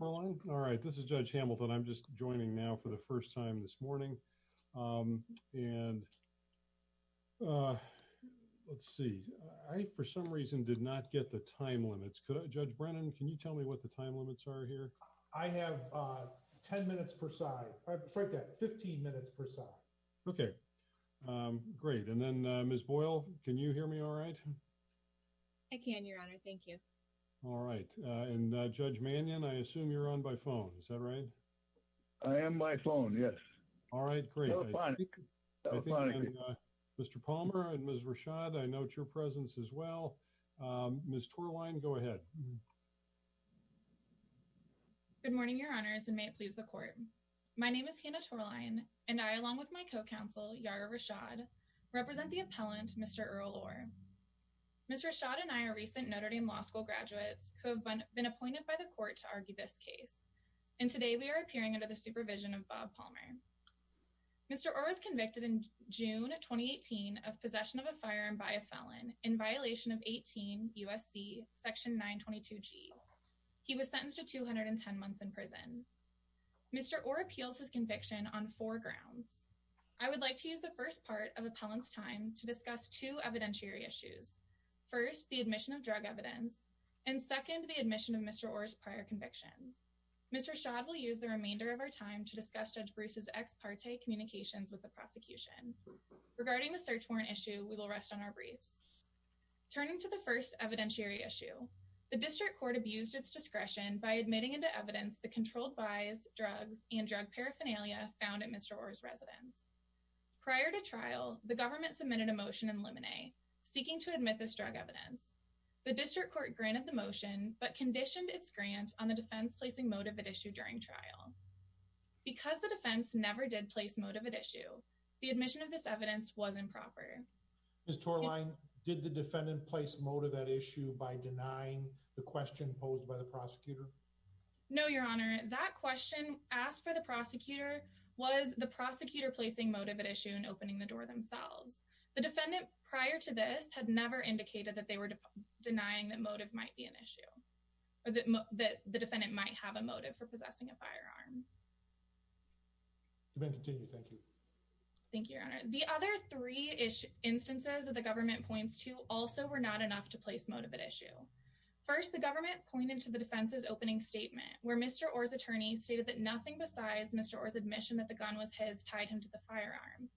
All right. This is judge Hamilton. I'm just joining now for the first time this morning. Um, and, uh, let's see. I, for some reason did not get the time limits. Could judge Brennan, can you tell me what the time limits are here? I have, uh, 10 minutes per side, 15 minutes per side. Okay. Um, great. And then, uh, Ms. Boyle, can you hear me? All right. I can your honor. Thank you. All right. Uh, and, uh, judge Mannion, I assume you're on my phone. Is that right? I am my phone. Yes. All right. Great. Mr. Palmer and Ms. Rashad, I note your presence as well. Um, Ms. Torlein, go ahead. Good morning, your honors, and may it please the court. My name is Hannah Torlein and I, along with my co-counsel, Yara Rashad, represent the appellant, Mr. Earl Orr. Mr. Rashad and I are recent Notre Dame law school graduates who have been appointed by the court to argue this case. And today we are appearing under the supervision of Bob Palmer. Mr. Orr was convicted in June of 2018 of possession of a firearm by a felon in violation of 18 USC section 922 G. He was sentenced to 210 months in prison. Mr. Orr appeals his conviction on four grounds. I would like to use the first part of appellant's time to discuss two evidentiary issues. First, the admission of drug evidence. And second, the admission of Mr. Orr's prior convictions. Mr. Rashad will use the remainder of our time to discuss Judge Bruce's ex parte communications with the prosecution. Regarding the search warrant issue, we will rest on our briefs. Turning to the first evidentiary issue, the district court abused its discretion by admitting into evidence the controlled buys, drugs, and drug paraphernalia found at Mr. Orr's residence. Prior to trial, the government submitted a motion in limine, seeking to admit this drug evidence. The district court granted the motion, but conditioned its grant on the defense placing motive at issue during trial. Because the defense never did place motive at issue, the admission of this evidence was improper. Ms. Torlein, did the defendant place motive at issue by denying the question posed by the prosecutor? No, your honor. That question asked by the prosecutor, was the prosecutor placing motive at issue and opening the door themselves. The defendant prior to this had never indicated that they were denying that motive might be an issue or that the defendant might have a motive for possessing a firearm. Thank you, your honor. The other three instances that the government points to also were not enough to place motive at issue. First, the government pointed to the defense's opening statement where Mr. Orr's attorney stated that nothing besides Mr. Orr's admission that the gun was his tied him to the firearm.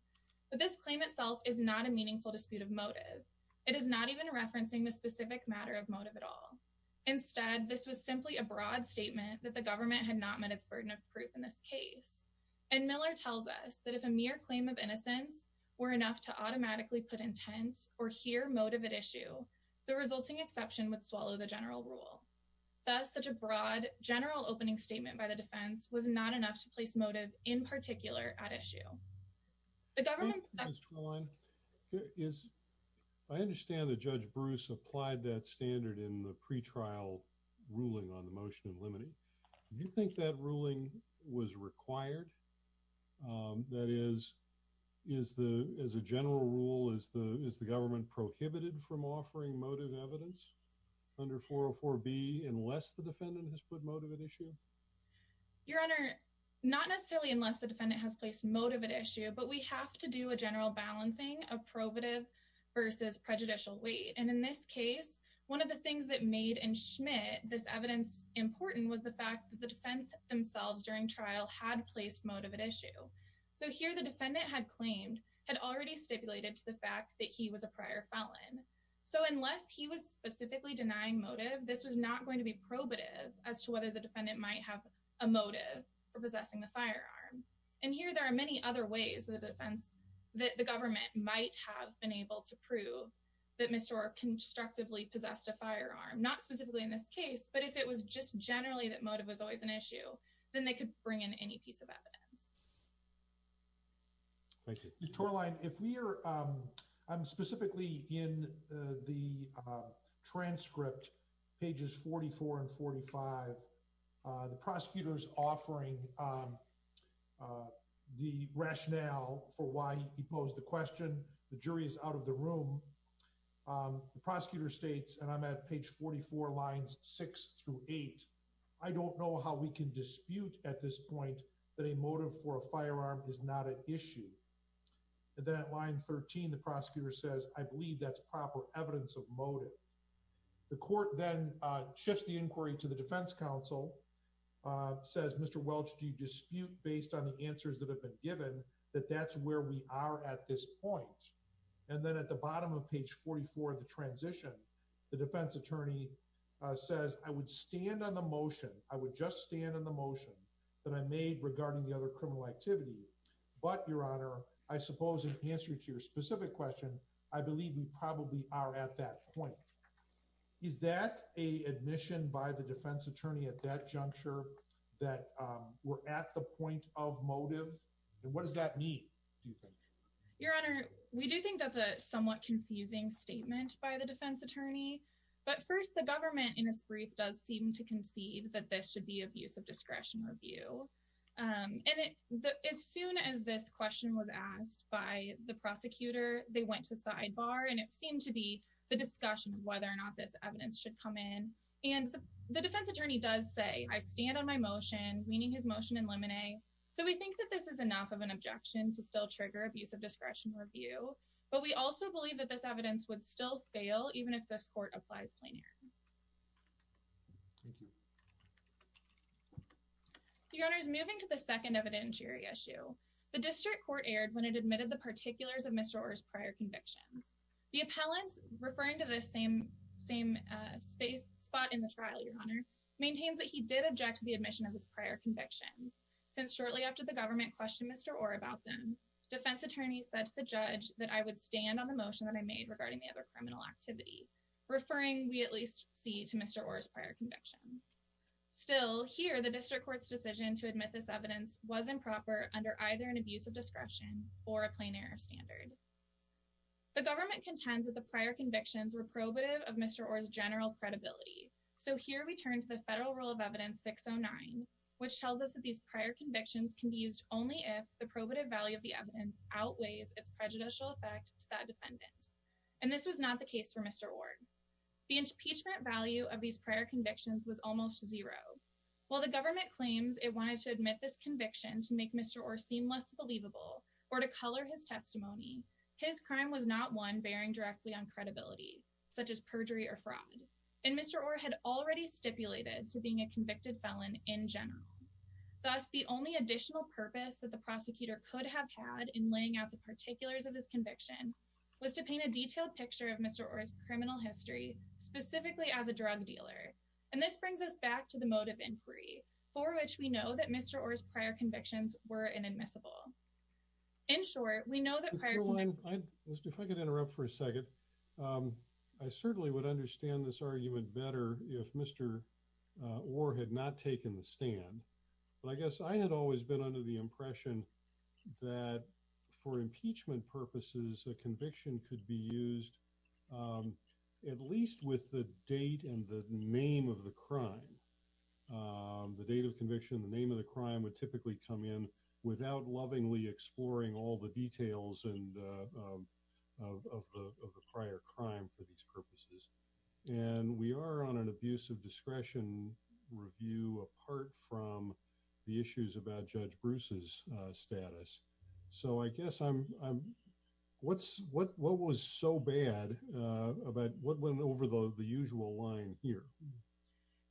But this claim itself is not a meaningful dispute of motive. It is not even referencing the specific matter of motive at all. Instead, this was simply a broad statement that the government had not met its burden of proof in this case. And Miller tells us that if a mere claim of innocence were enough to automatically put intent or hear motive at issue, the resulting exception would swallow the general rule. That's such a broad general opening statement by the defense was not enough to place motive in particular at issue. The government is, I understand that judge Bruce applied that standard in the pretrial ruling on the motion of limiting. Do you think that ruling was required? Um, that is, is the, as a general rule, is the, is the government prohibited from offering motive evidence under 404 B unless the defendant has put motive at issue? Your honor, not necessarily unless the defendant has placed motive at issue, but we have to do a general balancing of probative versus prejudicial weight. And in this case, one of the things that made and Schmidt, this evidence important was the fact that the defense themselves during trial had placed motive at issue. So here the defendant had claimed had already stipulated to the fact that he was a prior felon. So unless he was specifically denying motive, this was not going to be probative as to whether the defendant might have a motive for possessing the firearm. And here there are many other ways that the defense that the government might have been able to prove that Mr. Orr constructively possessed a firearm, not specifically in this case, but if it was just generally that motive was always an issue, then they could bring in any piece of evidence. Thank you. Your tour line. If we are, um, um, specifically in the, uh, transcript pages 44 and 45, uh, the prosecutor's offering, um, uh, the rationale for why he posed the question, the jury is out of the room. Um, the prosecutor states, and I'm at page 44 lines six through eight. I don't know how we can dispute at this point that a motive for a firearm is not an issue. And then at line 13, the prosecutor says, I believe that's proper evidence of motive. The court then shifts the inquiry to the defense council, uh, says, Mr. Welch, do you dispute based on the answers that have been given that that's where we are at this point. And then at the bottom of page 44, the transition, the defense attorney says, I would stand on the motion. I would just stand on the motion that I made regarding the other criminal activity. But your honor, I suppose, in answer to your specific question, I believe we probably are at that point. Is that a admission by the defense attorney at that juncture that, um, we're at the point of motive? And what does that mean? Do you think? Your honor, we do think that's a somewhat confusing statement by the defense attorney, but first the government in its brief, does seem to concede that this should be abuse of discretion review. Um, and as soon as this question was asked by the prosecutor, they went to the sidebar and it seemed to be the discussion of whether or not this evidence should come in. And the defense attorney does say, I stand on my motion, meaning his motion in limine. So we think that this is enough of an objection to still trigger abuse of discretion review. But we also believe that this evidence would still fail even if this court applies plain air. Your honor is moving to the second evidentiary issue. The district court aired when it admitted the particulars of Mr. Orr's prior convictions. The appellant referring to the same, same, uh, space spot in the trial, your honor maintains that he did object to the admission of his prior convictions. Since shortly after the government questioned Mr. Orr about them defense attorney said to the judge that I would stand on the motion that I made regarding the other criminal activity referring, we at least see to Mr. Orr's prior convictions still here, the district court's decision to admit this evidence wasn't proper under either an abuse of discretion or a plain air standard. The government contends that the prior convictions were probative of Mr. Orr's general credibility. So here we turn to the federal rule of evidence six Oh nine, which tells us that these prior convictions can be used only if the probative value of the evidence outweighs its prejudicial effect to that defendant. And this was not the case for Mr. Orr. The impeachment value of these prior convictions was almost zero while the government claims it wanted to admit this conviction to make Mr. Orr seem less believable or to color his testimony. His crime was not one bearing directly on credibility, such as perjury or fraud. And Mr. Orr had already stipulated to being a convicted felon in general. Thus, the only additional purpose that the prosecutor could have had in laying out the particulars of his conviction was to paint a detailed picture of Mr. Orr's criminal history, specifically as a drug dealer. And this brings us back to the motive inquiry for which we know that Mr. Orr's prior convictions were inadmissible. In short, we know that prior to one, let's do, if I could interrupt for a second. Um, I certainly would understand this argument better if Mr. Uh, or had not taken the stand, but I guess I had always been under the impression that for impeachment purposes, a conviction could be used, um, at least with the date and the name of the crime, um, the date of conviction, the name of the crime would typically come in without lovingly exploring all the details and, uh, of the prior crime for these purposes. And we are on an abuse of discretion review, apart from the issues about judge Bruce's, uh, status. So I guess I'm, I'm what's what, what was so bad about what went over the, the usual line here.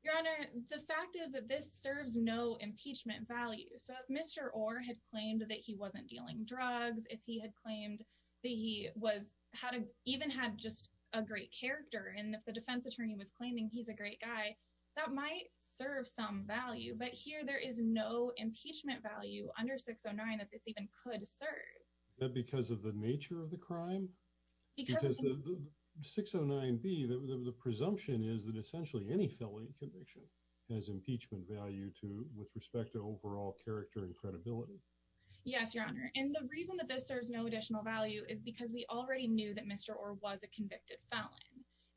Your honor. The fact is that this serves no impeachment value. So if Mr. Orr had claimed that he wasn't dealing drugs, if he had claimed that he was how to even had just a great character. And if the defense attorney was claiming, he's a great guy that might serve some value, but here there is no impeachment value under six or nine that this even could serve. That because of the nature of the crime, because the six or nine B the presumption is that essentially any felony conviction has impeachment value to with respect to overall character and credibility. Yes, your honor. And the reason that this serves no additional value is because we already knew that Mr. Orr was a convicted felon.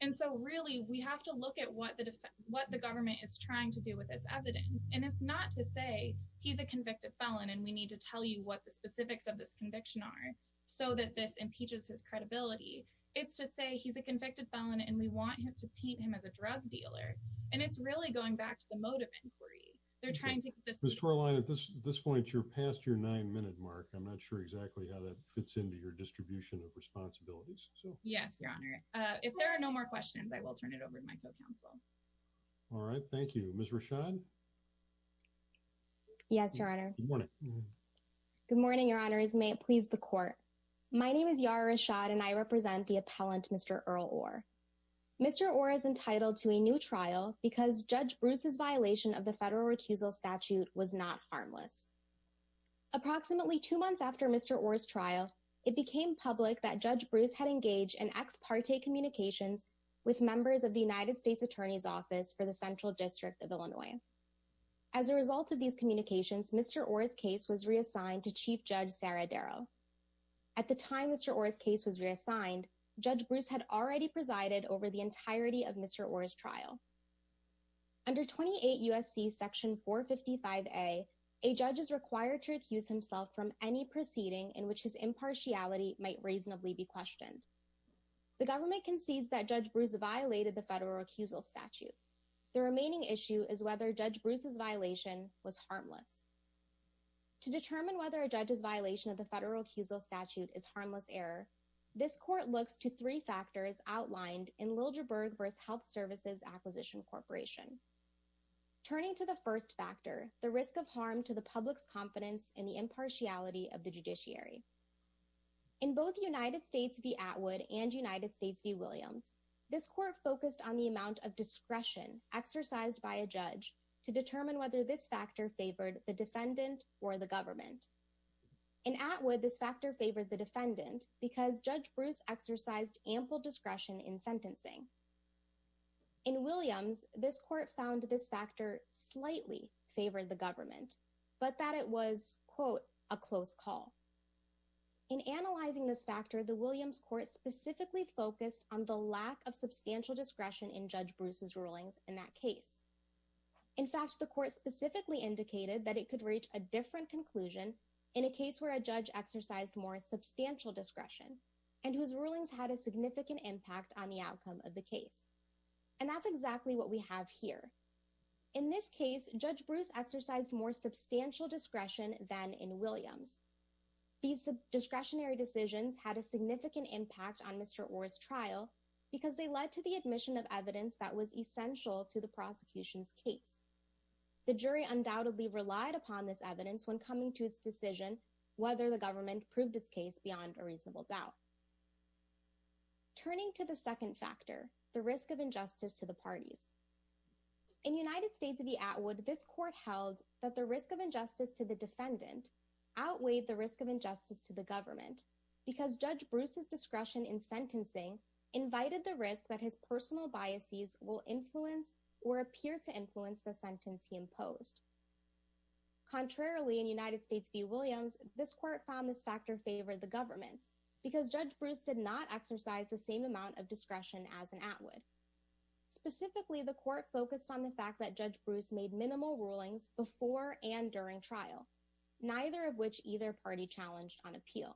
And so really we have to look at what the, what the government is trying to do with this evidence. And it's not to say he's a convicted felon and we need to tell you what the conviction are so that this impeaches his credibility. It's to say he's a convicted felon and we want him to paint him as a drug dealer. And it's really going back to the motive inquiry. They're trying to get this storyline at this point, you're past your nine minute mark. I'm not sure exactly how that fits into your distribution of responsibilities. So yes, your honor. If there are no more questions, I will turn it over to my co-counsel. All right. Thank you. Ms. Rashad. Yes, your honor. Good morning. Your honor. May it please the court. My name is Yara Rashad and I represent the appellant, Mr. Earl Orr. Mr. Orr is entitled to a new trial because judge Bruce's violation of the federal recusal statute was not harmless. Approximately two months after Mr. Orr's trial, it became public that judge Bruce had engaged in ex parte communications with members of the United States attorney's office for the central district of Illinois. As a result of these communications, Mr. Orr's case was reassigned to chief judge Sarah Darrow. At the time, Mr. Orr's case was reassigned. Judge Bruce had already presided over the entirety of Mr. Orr's trial. Under 28 USC section four 55 a, a judge is required to accuse himself from any proceeding in which his impartiality might reasonably be questioned. The government concedes that judge Bruce violated the federal recusal statute. The remaining issue is whether judge Bruce's violation was harmless. To determine whether a judge's violation of the federal recusal statute is harmless error. This court looks to three factors outlined in Lilja Berg versus health services acquisition corporation, turning to the first factor, the risk of harm to the public's confidence in the impartiality of the judiciary in both the United States of the Atwood and United States view Williams. This court focused on the amount of discretion exercised by a judge to defendant or the government and Atwood this factor favored the defendant because judge Bruce exercised ample discretion in sentencing in Williams. This court found this factor slightly favored the government, but that it was quote a close call. In analyzing this factor, the Williams court specifically focused on the lack of substantial discretion in judge Bruce's rulings. In that case, in fact, the court specifically indicated that it could reach a different conclusion in a case where a judge exercised more substantial discretion and whose rulings had a significant impact on the outcome of the case. And that's exactly what we have here. In this case, judge Bruce exercised more substantial discretion than in Williams. These discretionary decisions had a significant impact on Mr. Orr's trial because they led to the admission of evidence that was essential to the prosecution's case. The jury undoubtedly relied upon this evidence when coming to its decision, whether the government proved its case beyond a reasonable doubt. Turning to the second factor, the risk of injustice to the parties in United States of the Atwood, this court held that the risk of injustice to the defendant outweighed the risk of injustice to the government because judge Bruce's discretion in sentencing invited the risk that his personal biases will influence or appear to influence the sentence he imposed. Contrarily in United States v. Williams, this court found this factor favored the government because judge Bruce did not exercise the same amount of discretion as an Atwood. Specifically, the court focused on the fact that judge Bruce made minimal rulings before and during trial, neither of which either party challenged on appeal.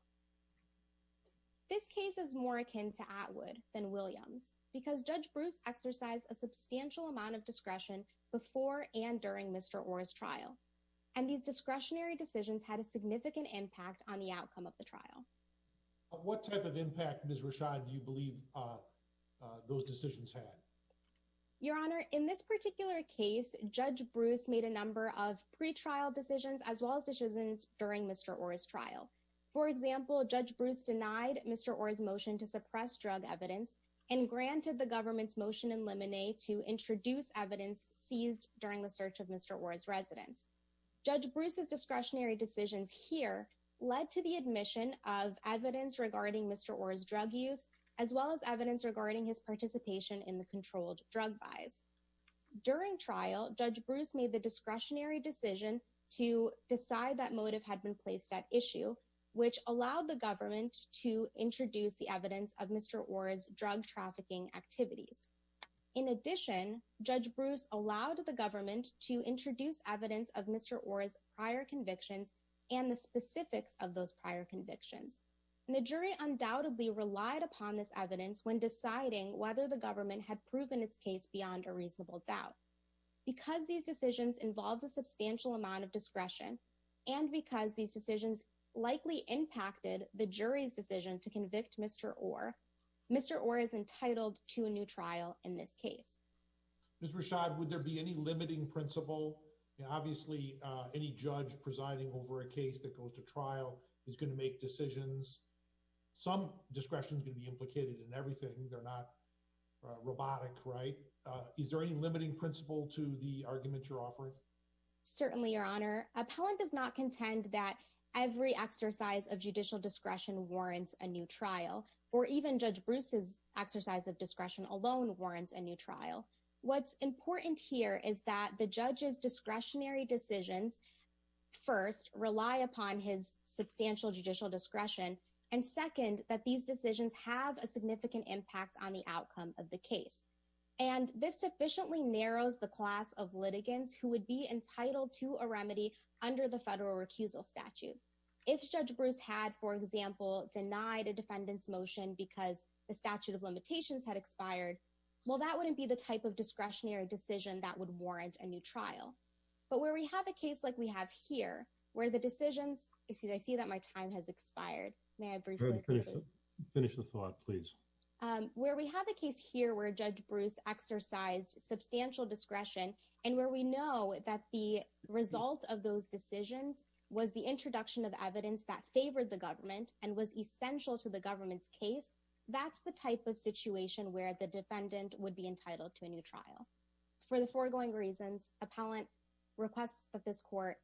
This case is more akin to Atwood than Williams because judge Bruce exercised a substantial amount of discretion before and during Mr. Orr's trial. And these discretionary decisions had a significant impact on the outcome of the trial. What type of impact Ms. Rashad do you believe those decisions had? Your honor, in this particular case, judge Bruce made a number of pretrial decisions as well as decisions during Mr. Orr's trial. For example, judge Bruce denied Mr. Orr's motion to suppress drug evidence and granted the government's motion in limine to introduce evidence seized during the search of Mr. Orr's residence. Judge Bruce's discretionary decisions here led to the admission of evidence regarding Mr. Orr's drug use, as well as evidence regarding his participation in the controlled drug buys. During trial, judge Bruce made the discretionary decision to decide that motive had been placed at issue, which allowed the government to introduce the evidence of Mr. Orr's drug trafficking activities. In addition, judge Bruce allowed the government to introduce evidence of Mr. Orr's prior convictions and the specifics of those prior convictions. And the jury undoubtedly relied upon this evidence when deciding whether the government had proven its case beyond a reasonable doubt because these decisions involved a substantial amount of discretion and because these decisions likely impacted the jury's decision to convict Mr. Orr. Mr. Orr is entitled to a new trial in this case. Ms. Rashad, would there be any limiting principle? Obviously any judge presiding over a case that goes to trial is going to make decisions. Some discretion is going to be implicated in everything. They're not robotic, right? Is there any limiting principle to the argument you're offering? Certainly, Your Honor, appellant does not contend that every exercise of judicial discretion warrants a new trial or even judge Bruce's exercise of discretion alone warrants a new trial. What's important here is that the judge's discretionary decisions first rely upon his substantial judicial discretion. And second, that these decisions have a significant impact on the outcome of the case. And this sufficiently narrows the class of litigants who would be entitled to a remedy under the federal recusal statute. If judge Bruce had, for example, denied a defendant's motion because the statute of limitations had expired, well, that wouldn't be the type of discretionary decision that would warrant a new trial. But where we have a case like we have here where the decisions, I see that my time has expired. May I briefly finish the thought, please? Where we have a case here where judge Bruce exercised substantial discretion and where we know that the result of those decisions was the introduction of evidence that favored the government and was essential to the government's case. That's the type of situation where the defendant would be entitled to a new trial. For the foregoing reasons, appellant requests that this court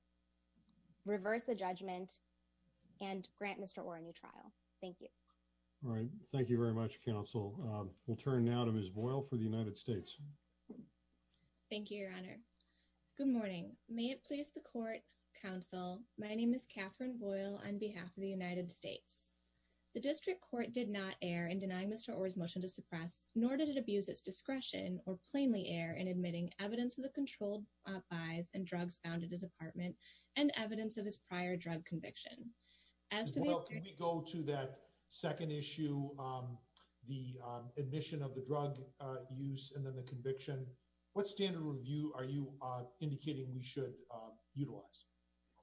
reverse the judgment and grant Mr. Orr a new trial. Thank you. All right. Thank you very much. Counsel. We'll turn now to Ms. Boyle for the United States. Thank you, your honor. Good morning. May it please the court counsel. My name is Catherine Boyle on behalf of the United States. The district court did not air in denying Mr. Orr's motion to suppress, nor did it abuse its discretion or plainly air in admitting evidence of the controlled buys and drugs found at his apartment and evidence of his prior drug conviction. As well, can we go to that second issue? Um, the, um, admission of the drug use and then the conviction, what standard review are you indicating we should, um, utilize?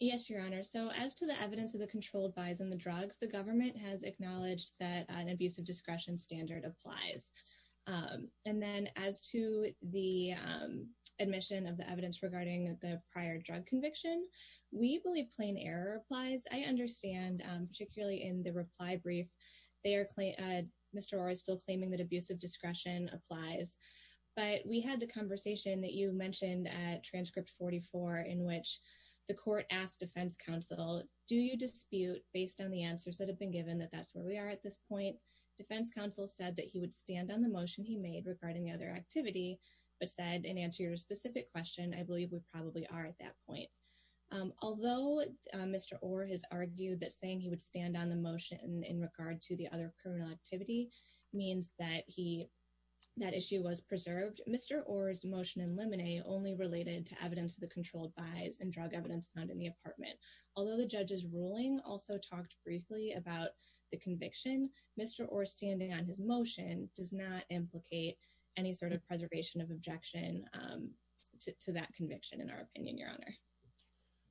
Yes, your honor. So as to the evidence of the controlled buys and the drugs, the government has acknowledged that an abusive discretion standard applies. Um, and then as to the, um, admission of the evidence regarding the prior drug conviction, we believe plain error applies. I understand, um, particularly in the reply brief, they are, Clay, uh, Mr. Orr is still claiming that abusive discretion applies, but we had the conversation that you mentioned at transcript 44, in which the court asked defense counsel, do you dispute based on the answers that have been given that that's where we are at this point. Defense counsel said that he would stand on the motion he made regarding the other activity, but said, and answer your specific question. I believe we probably are at that point. Um, although, um, Mr. Orr has argued that saying he would stand on the motion in regard to the other criminal activity means that he, that issue was preserved. Mr. Orr's motion and lemonade only related to evidence of the controlled buys and drug evidence found in the apartment. Although the judge's ruling also talked briefly about the conviction, Mr. Orr standing on his motion does not implicate any sort of preservation of objection, um, to that conviction in our opinion, your honor.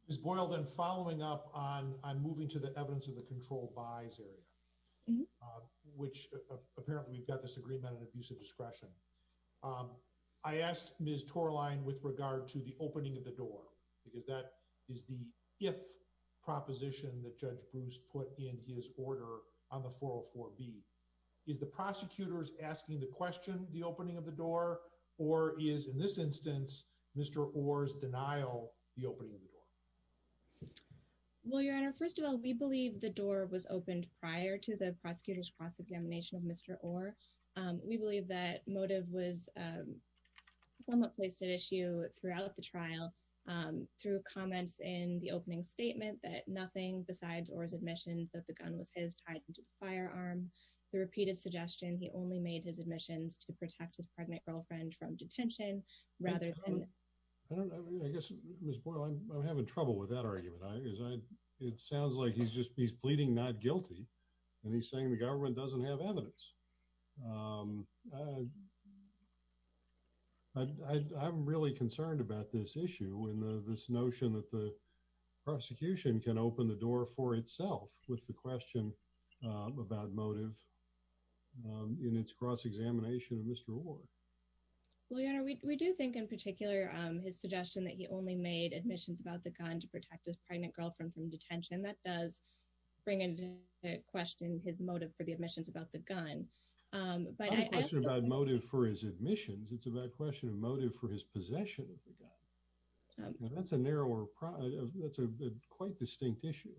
Is boiled and following up on, I'm moving to the evidence of the control buys area, uh, which apparently we've got this agreement and abuse of discretion. Um, I asked Ms. Torlein with regard to the opening of the door, because that is the, if proposition that judge Bruce put in his order on the 404 B is the prosecutors asking the question, the opening of the door, or is in this instance, Mr. Orr's denial, the opening of the door. Well, your honor, first of all, we believe the door was opened prior to the prosecutor's cross-examination of Mr. Orr. Um, we believe that motive was, um, somewhat placed at issue throughout the trial, um, through comments in the opening statement that nothing besides, or his admission that the gun was his tied into the firearm, the repeated suggestion. He only made his admissions to protect his pregnant girlfriend from detention rather than, I don't know, I guess Ms. Boyle, I'm, I'm having trouble with that argument. I, as I, it sounds like he's just, he's pleading not guilty and he's saying the government doesn't have evidence. Um, uh, I, I, I'm really concerned about this issue in the, this notion that the prosecution can open the door for itself with the question, um, about motive, um, in its cross-examination of Mr. Orr. Well, your honor, we, we do think in particular, um, his suggestion that he only made admissions about the gun to protect his pregnant girlfriend from detention. That does bring into question his motive for the admissions about the gun. Um, but I, I have a question about motive for his admissions. It's about question of motive for his possession of the gun. Um, that's a narrower product of that's a quite distinct issue.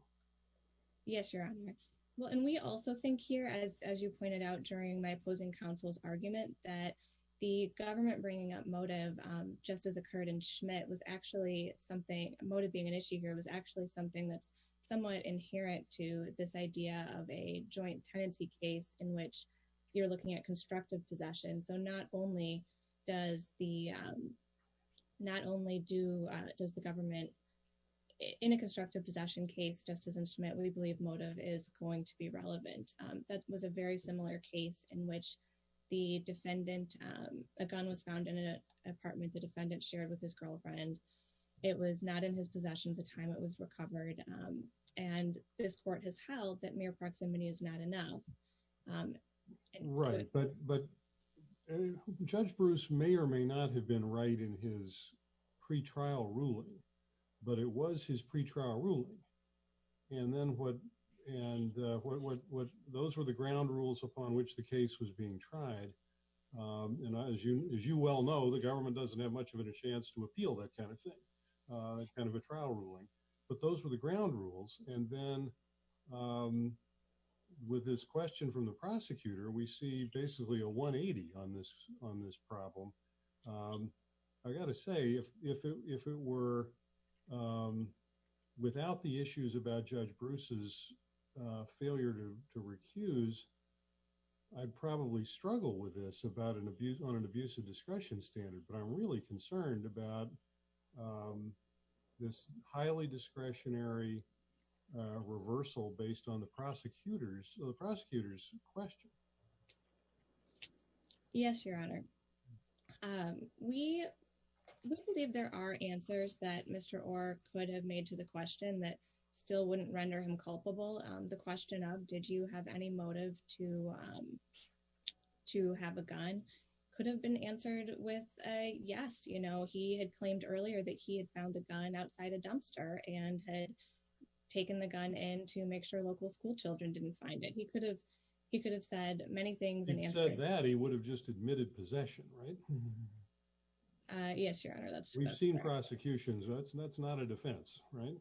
Yes, your honor. Well, and we also think here, as, as you pointed out during my opposing counsel's argument that the government bringing up motive, um, just as occurred in Schmidt was actually something motive being an issue here. It was actually something that's somewhat inherent to this idea of a joint tenancy case in which you're looking at constructive possession. So not only does the, um, not only do, uh, does the government in a constructive possession case, just as in Schmidt, we believe motive is going to be relevant. Um, that was a very similar case in which the defendant, um, a gun was found in an apartment. The defendant shared with his girlfriend. It was not in his possession at the time it was recovered. Um, and this court has held that mere proximity is not enough. Um, right. But, but judge Bruce may or may not have been right in his pretrial ruling, but it was his pretrial ruling. And then what, and, uh, what, what, what those were the ground rules upon which the case was being tried. Um, and as you, as you well know, the government doesn't have much of a chance to appeal that kind of thing, uh, kind of a trial ruling, but those were the ground rules. And then, um, with this question from the prosecutor, we see basically a one 80 on this, on this problem. Um, I gotta say if, if it, if it were, um, without the issues about judge Bruce's, uh, failure to, to recuse, I'd probably struggle with this about an abuse on an abuse of discretion standard, but I'm really concerned about, um, this highly discretionary, uh, reversal based on the prosecutor's or the prosecutor's question. Yes, Your Honor. Um, we, we believe there are answers that Mr. Orr could have made to the question that still wouldn't render him culpable. Um, the question of, did you have any motive to, um, to have a gun could have been answered with a yes. You know, he had claimed earlier that he had found the gun outside a dumpster and had taken the gun in to make sure local school children didn't find it. He could have, he could have said many things and he said that he would have just admitted possession, right? Uh, yes, Your Honor. That's we've seen prosecutions. That's, that's not a defense, right?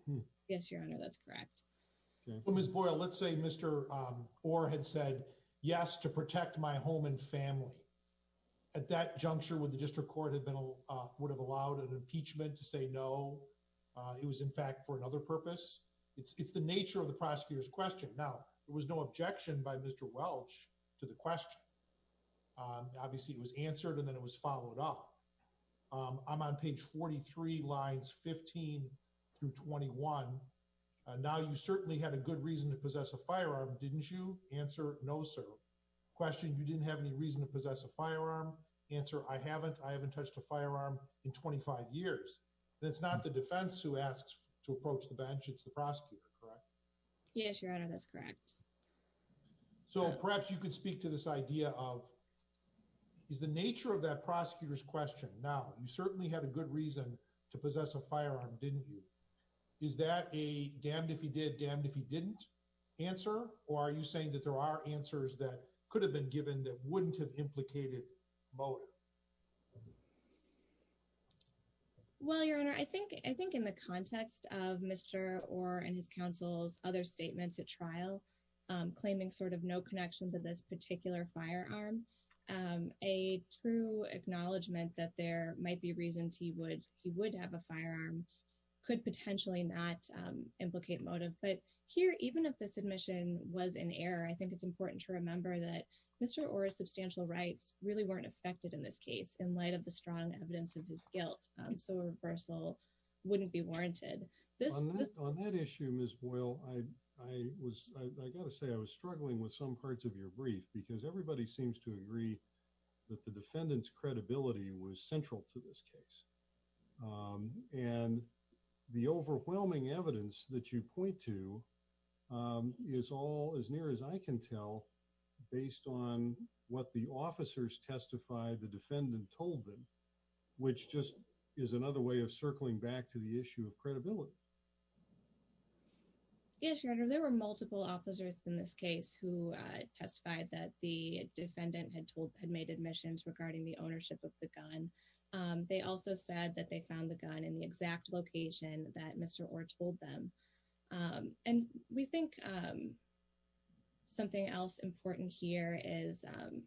Yes, Your Honor. That's correct. Okay. Well, Ms. Boyle, let's say Mr. Um, or had said yes to protect my home and family at that juncture with the district court had been, uh, would have allowed an impeachment to say, no, uh, it was in fact for another purpose. It's, it's the nature of the prosecutor's question. Now there was no objection by Mr. Welch to the question. Um, obviously it was answered and then it was followed up. Um, I'm on page 43 lines 15 through 21. Uh, now you certainly had a good reason to possess a firearm. Didn't you answer? No, sir. Question. You didn't have any reason to possess a firearm answer. I haven't, I haven't touched a firearm in 25 years. That's not the defense who asks to approach the bench. It's the prosecutor, correct? Yes, Your Honor. That's correct. So perhaps you could speak to this idea of is the nature of that prosecutor's question. Now you certainly had a good reason to possess a firearm. Didn't you? Is that a damned if he did damned, if he didn't answer, or are you saying that there are answers that could have been given that wouldn't have implicated Mueller? Well, Your Honor, I think, I think in the context of Mr. Orr and his counsel's other statements at trial, um, claiming sort of no connection to this particular firearm, um, a true acknowledgement that there might be reasons he would, he would have a firearm, could potentially not, um, implicate motive. But here, even if this admission was in error, I think it's important to remember that Mr. Orr's substantial rights really weren't affected in this case in light of the strong evidence of his guilt. Um, so reversal wouldn't be warranted this on that issue. Ms. Boyle, I, I was, I gotta say I was struggling with some parts of your brief because everybody seems to agree that the defendant's credibility was central to this case. Um, and the overwhelming evidence that you point to, um, is all as near as I can tell, based on what the officers testified, the defendant told them, which just is another way of circling back to the issue of credibility. Yes, Your Honor. There were multiple officers in this case who testified that the defendant had told, had made admissions regarding the ownership of the gun. Um, they also said that they found the gun in the exact location that Mr. Orr told them. Um, and we think, um, something else important here is, um,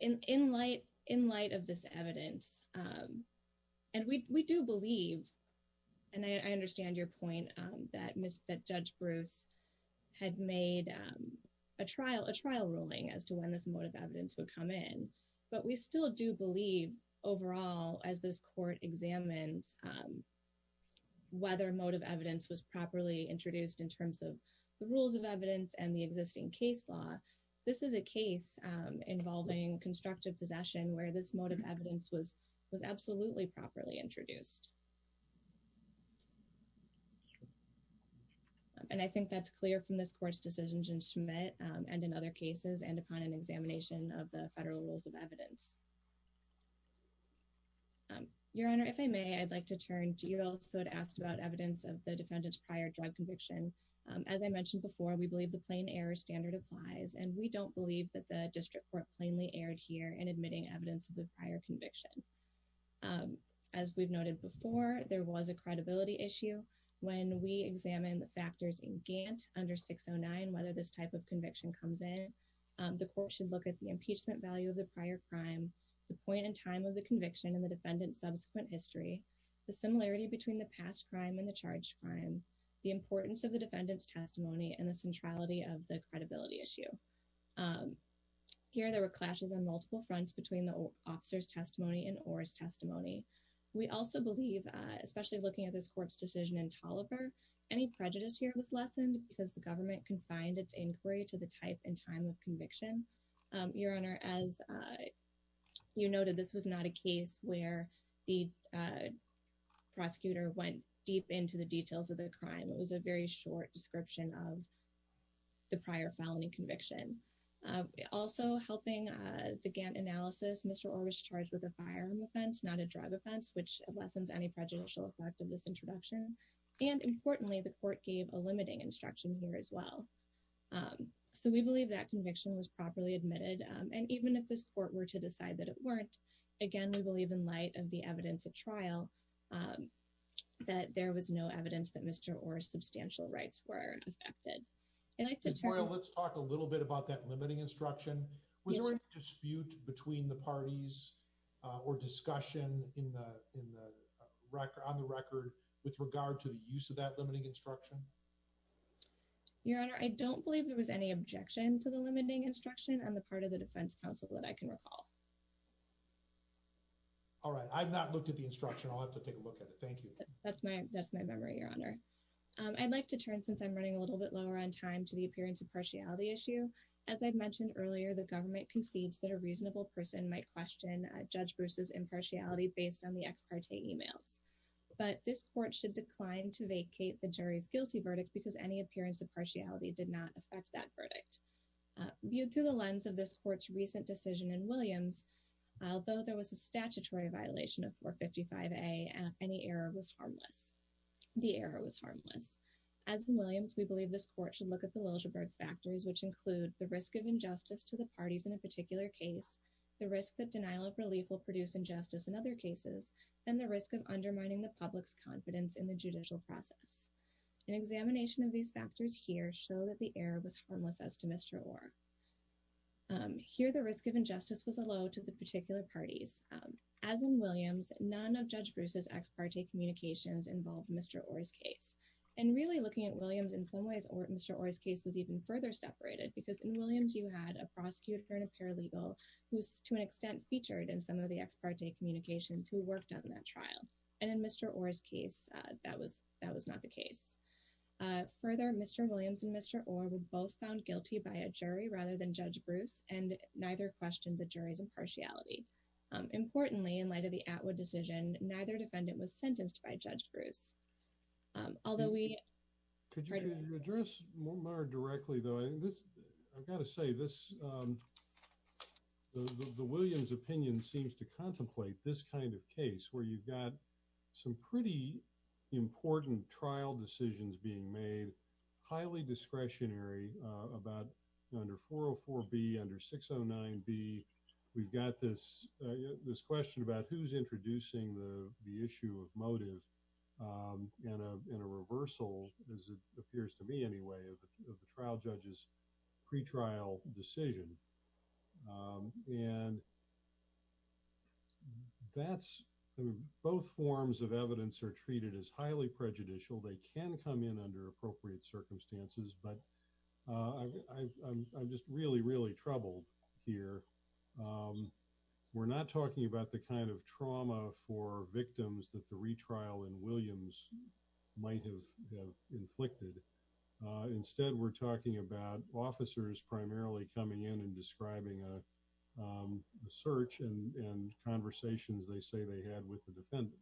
in, in light, in light of this evidence, um, and we, we do believe, and I understand your point, um, that Miss, that judge Bruce had made, um, a trial, a trial ruling as to when this motive evidence would come in. But we still do believe overall, as this court examines, um, whether motive evidence was properly introduced in terms of the rules of evidence and the existing case law. This is a case, um, involving constructive possession where this motive evidence was, was absolutely properly introduced. And I think that's clear from this court's decisions in Schmidt, um, and in other cases and upon an examination of the federal rules of evidence. Um, your honor, if I may, I'd like to turn to, you also had asked about evidence of the defendant's prior drug conviction. Um, as I mentioned before, we believe the plain error standard applies, and we don't believe that the district court plainly aired here and admitting evidence of the prior conviction. Um, as we've noted before, there was a credibility issue when we examine the factors in Gant under 609, whether this type of conviction comes in, um, the court should look at the impeachment value of the prior crime, the point in time of the conviction and the defendant subsequent history, the similarity between the past crime and the charge crime, the importance of the defendant's testimony and the centrality of the credibility issue. Um, here there were clashes on multiple fronts between the officer's testimony and or his testimony. We also believe, uh, especially looking at this court's decision in Toliver, any prejudice here was lessened because the government can find its inquiry to the type and time of conviction. Um, your honor, as, uh, you noted, this was not a case where the, uh, prosecutor went deep into the details of their crime. It was a very short description of the prior felony conviction. Um, also helping, uh, the Gant analysis, Mr. Orr was charged with a firearm offense, not a drug offense, which lessens any prejudicial effect of this introduction. And importantly, the court gave a limiting instruction here as well. Um, so we believe that conviction was properly admitted. Um, and even if this court were to decide that it weren't, again, we believe in light of the evidence of trial, um, that there was no evidence that Mr. Orr's substantial rights were affected. I'd like to turn, let's talk a little bit about that limiting instruction was dispute between the parties, uh, or discussion in the, in the record on the record, with regard to the use of that limiting instruction. Your honor. I don't believe there was any objection to the limiting instruction on the part of the defense council that I can recall. All right. I've not looked at the instruction. I'll have to take a look at it. Thank you. That's my, that's my memory. Your honor. Um, I'd like to turn, since I'm running a little bit lower on time to the appearance of partiality issue, as I've mentioned earlier, the government concedes that a reasonable person might question judge Bruce's impartiality based on the ex parte emails. But this court should decline to vacate the jury's guilty verdict because any appearance of partiality did not affect that verdict, viewed through the lens of this court's recent decision in Williams. Although there was a statutory violation of four 55 a and any error was harmless. The error was harmless as Williams. We believe this court should look at the Liljeburg factors, which include the risk of injustice to the parties in a particular case, the risk that denial of relief will produce injustice in other cases, and the risk of undermining the public's confidence in the judicial process. And examination of these factors here show that the air was harmless as to Mr. Or, um, here, the risk of injustice was allowed to the particular parties. As in Williams, none of judge Bruce's ex parte communications involved Mr. Or's case. And really looking at Williams in some ways, or Mr. Or's case was even further separated because in Williams, you had a prosecutor and a paralegal who was to an extent featured in some of the ex parte communications who worked on that trial. And in Mr. Or's case, that was, that was not the case. Uh, further, Mr. Williams and Mr. Or were both found guilty by a jury rather than judge Bruce. And neither questioned the jury's impartiality. Um, importantly in light of the Atwood decision, neither defendant was sentenced by judge Bruce. Um, although we. Could you address more directly though, I think this, I've got to say this, um, the Williams opinion seems to contemplate this kind of case where you've got some pretty important trial decisions being made, highly discretionary, uh, about under 404 B under 609 B. We've got this, uh, this question about who's introducing the, the issue of motive, um, and, uh, in a reversal, as it appears to me anyway, of the trial judges. Pre-trial decision. Um, and that's, I mean, both forms of evidence are treated as highly prejudicial. They can come in under appropriate circumstances, but, uh, I I'm, I'm just really, really troubled here. Um, we're not talking about the kind of trauma for victims that the retrial in Williams might have inflicted. Uh, instead we're talking about officers primarily coming in and describing, uh, um, the search and conversations they say they had with the defendant.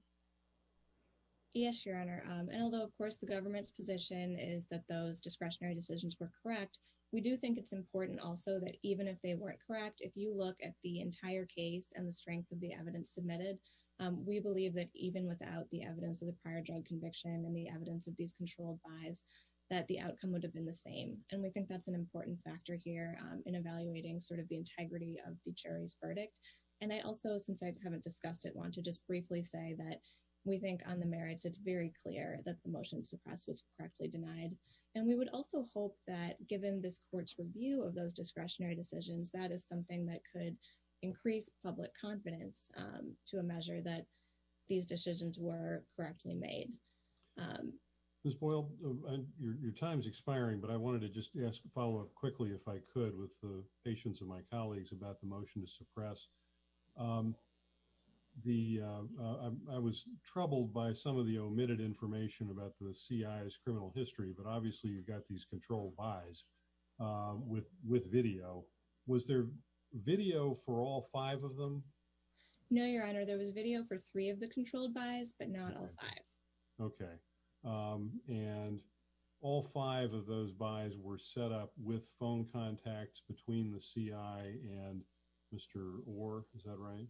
Yes, your honor. Um, and although of course the government's position is that those discretionary decisions were correct. We do think it's important also that even if they weren't correct, if you look at the entire case and the strength of the evidence submitted, um, we believe that even without the evidence of the prior drug conviction and the evidence of these controlled buys, that the outcome would have been the same. And we think that's an important factor here, um, in evaluating sort of the integrity of the jury's verdict. And I also, since I haven't discussed it, want to just briefly say that we think on the merits, it's very clear that the motion suppressed was correctly denied. And we would also hope that given this court's review of those discretionary decisions, that is something that could increase public confidence, um, to a measure that these decisions were correctly made. Um, this boiled your, your time's expiring, but I wanted to just ask a follow up quickly if I could with the patients of my colleagues about the motion to suppress, um, the, uh, I was troubled by some of the omitted information about the CIS criminal history, but obviously you've got these controlled buys, um, with, with video, was there video for all five of them? No, your honor, there was video for three of the controlled buys, but not all five. Okay. Um, and all five of those, buys were set up with phone contacts between the CI and Mr. Or is that right?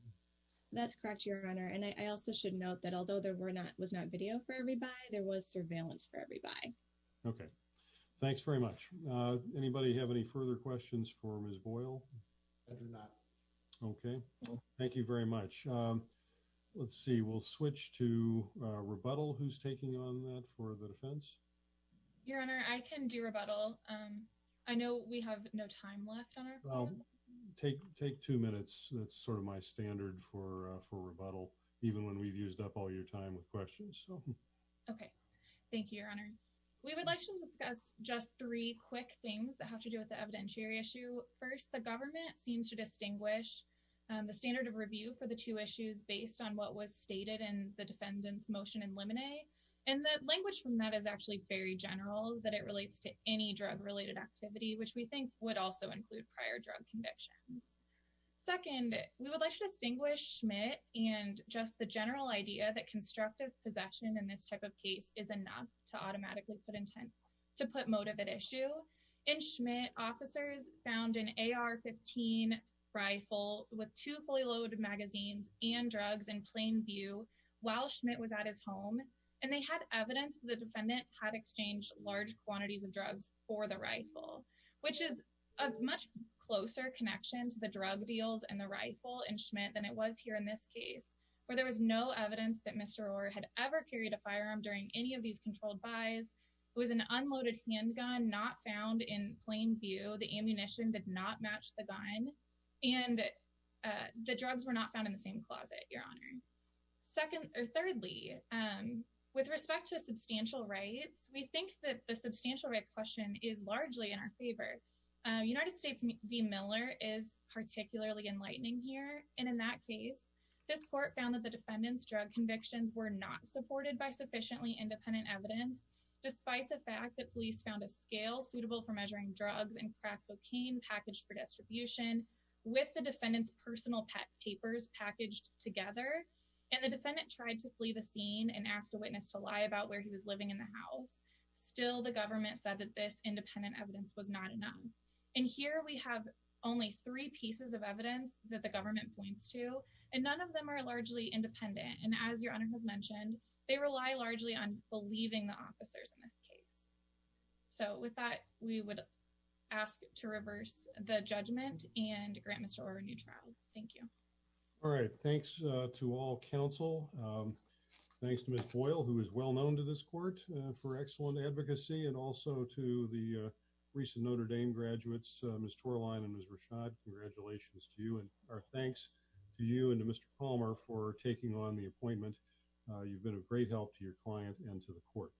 That's correct. Your honor. And I also should note that although there were not, was not video for everybody, there was surveillance for everybody. Okay. Thanks very much. Uh, anybody have any further questions for Ms. Boyle? I do not. Okay. Thank you very much. Um, let's see, we'll switch to a rebuttal. Who's taking on that for the defense. Your honor. I can do rebuttal. Um, I know we have no time left on our phone. Take, take two minutes. That's sort of my standard for, uh, for rebuttal, even when we've used up all your time with questions. Okay. Thank you, your honor. We would like to discuss just three quick things that have to do with the evidentiary issue. First, the government seems to distinguish, um, the standard of review for the two issues based on what was stated in the defendant's motion and lemonade. And the language from that is actually very general that it relates to any drug related activity, which we think would also include prior drug convictions. Second, we would like to distinguish Schmidt and just the general idea that constructive possession in this type of case is enough to automatically put intent to put motive at issue and Schmidt officers found an AR 15 rifle with two fully loaded magazines and drugs in his home. And they had evidence. The defendant had exchanged large quantities of drugs for the rifle, which is a much closer connection to the drug deals and the rifle and Schmidt than it was here in this case, where there was no evidence that Mr. Orr had ever carried a firearm during any of these controlled buys. It was an unloaded handgun, not found in plain view. The ammunition did not match the gun. And, uh, the drugs were not found in the same closet. Your honor. Second or thirdly, with respect to substantial rights, we think that the substantial rights question is largely in our favor. Uh, United States D Miller is particularly enlightening here. And in that case, this court found that the defendant's drug convictions were not supported by sufficiently independent evidence, despite the fact that police found a scale suitable for measuring drugs and crack cocaine packaged for distribution with the defendant's personal pet papers packaged together. And the defendant tried to flee the scene and ask a witness to lie about where he was living in the house. Still the government said that this independent evidence was not enough. And here we have only three pieces of evidence that the government points to, and none of them are largely independent. And as your honor has mentioned, they rely largely on believing the officers in this case. So with that, we would ask to reverse the judgment and grant Mr. Orr a new trial. Thank you. All right. Thanks to all counsel. Um, thanks to Ms. Boyle, who is well known to this court for excellent advocacy and also to the, uh, recent Notre Dame graduates, uh, Ms. Torlein and Ms. Rashad, congratulations to you and our thanks to you and to Mr. Palmer for taking on the appointment. Uh, you've been a great help to your client and to the court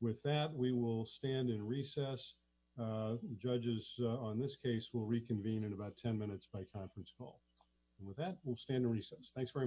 with that, we will stand in recess. Uh, judges on this case, we'll reconvene in about 10 minutes by conference call. And with that, we'll stand in recess. Thanks very much.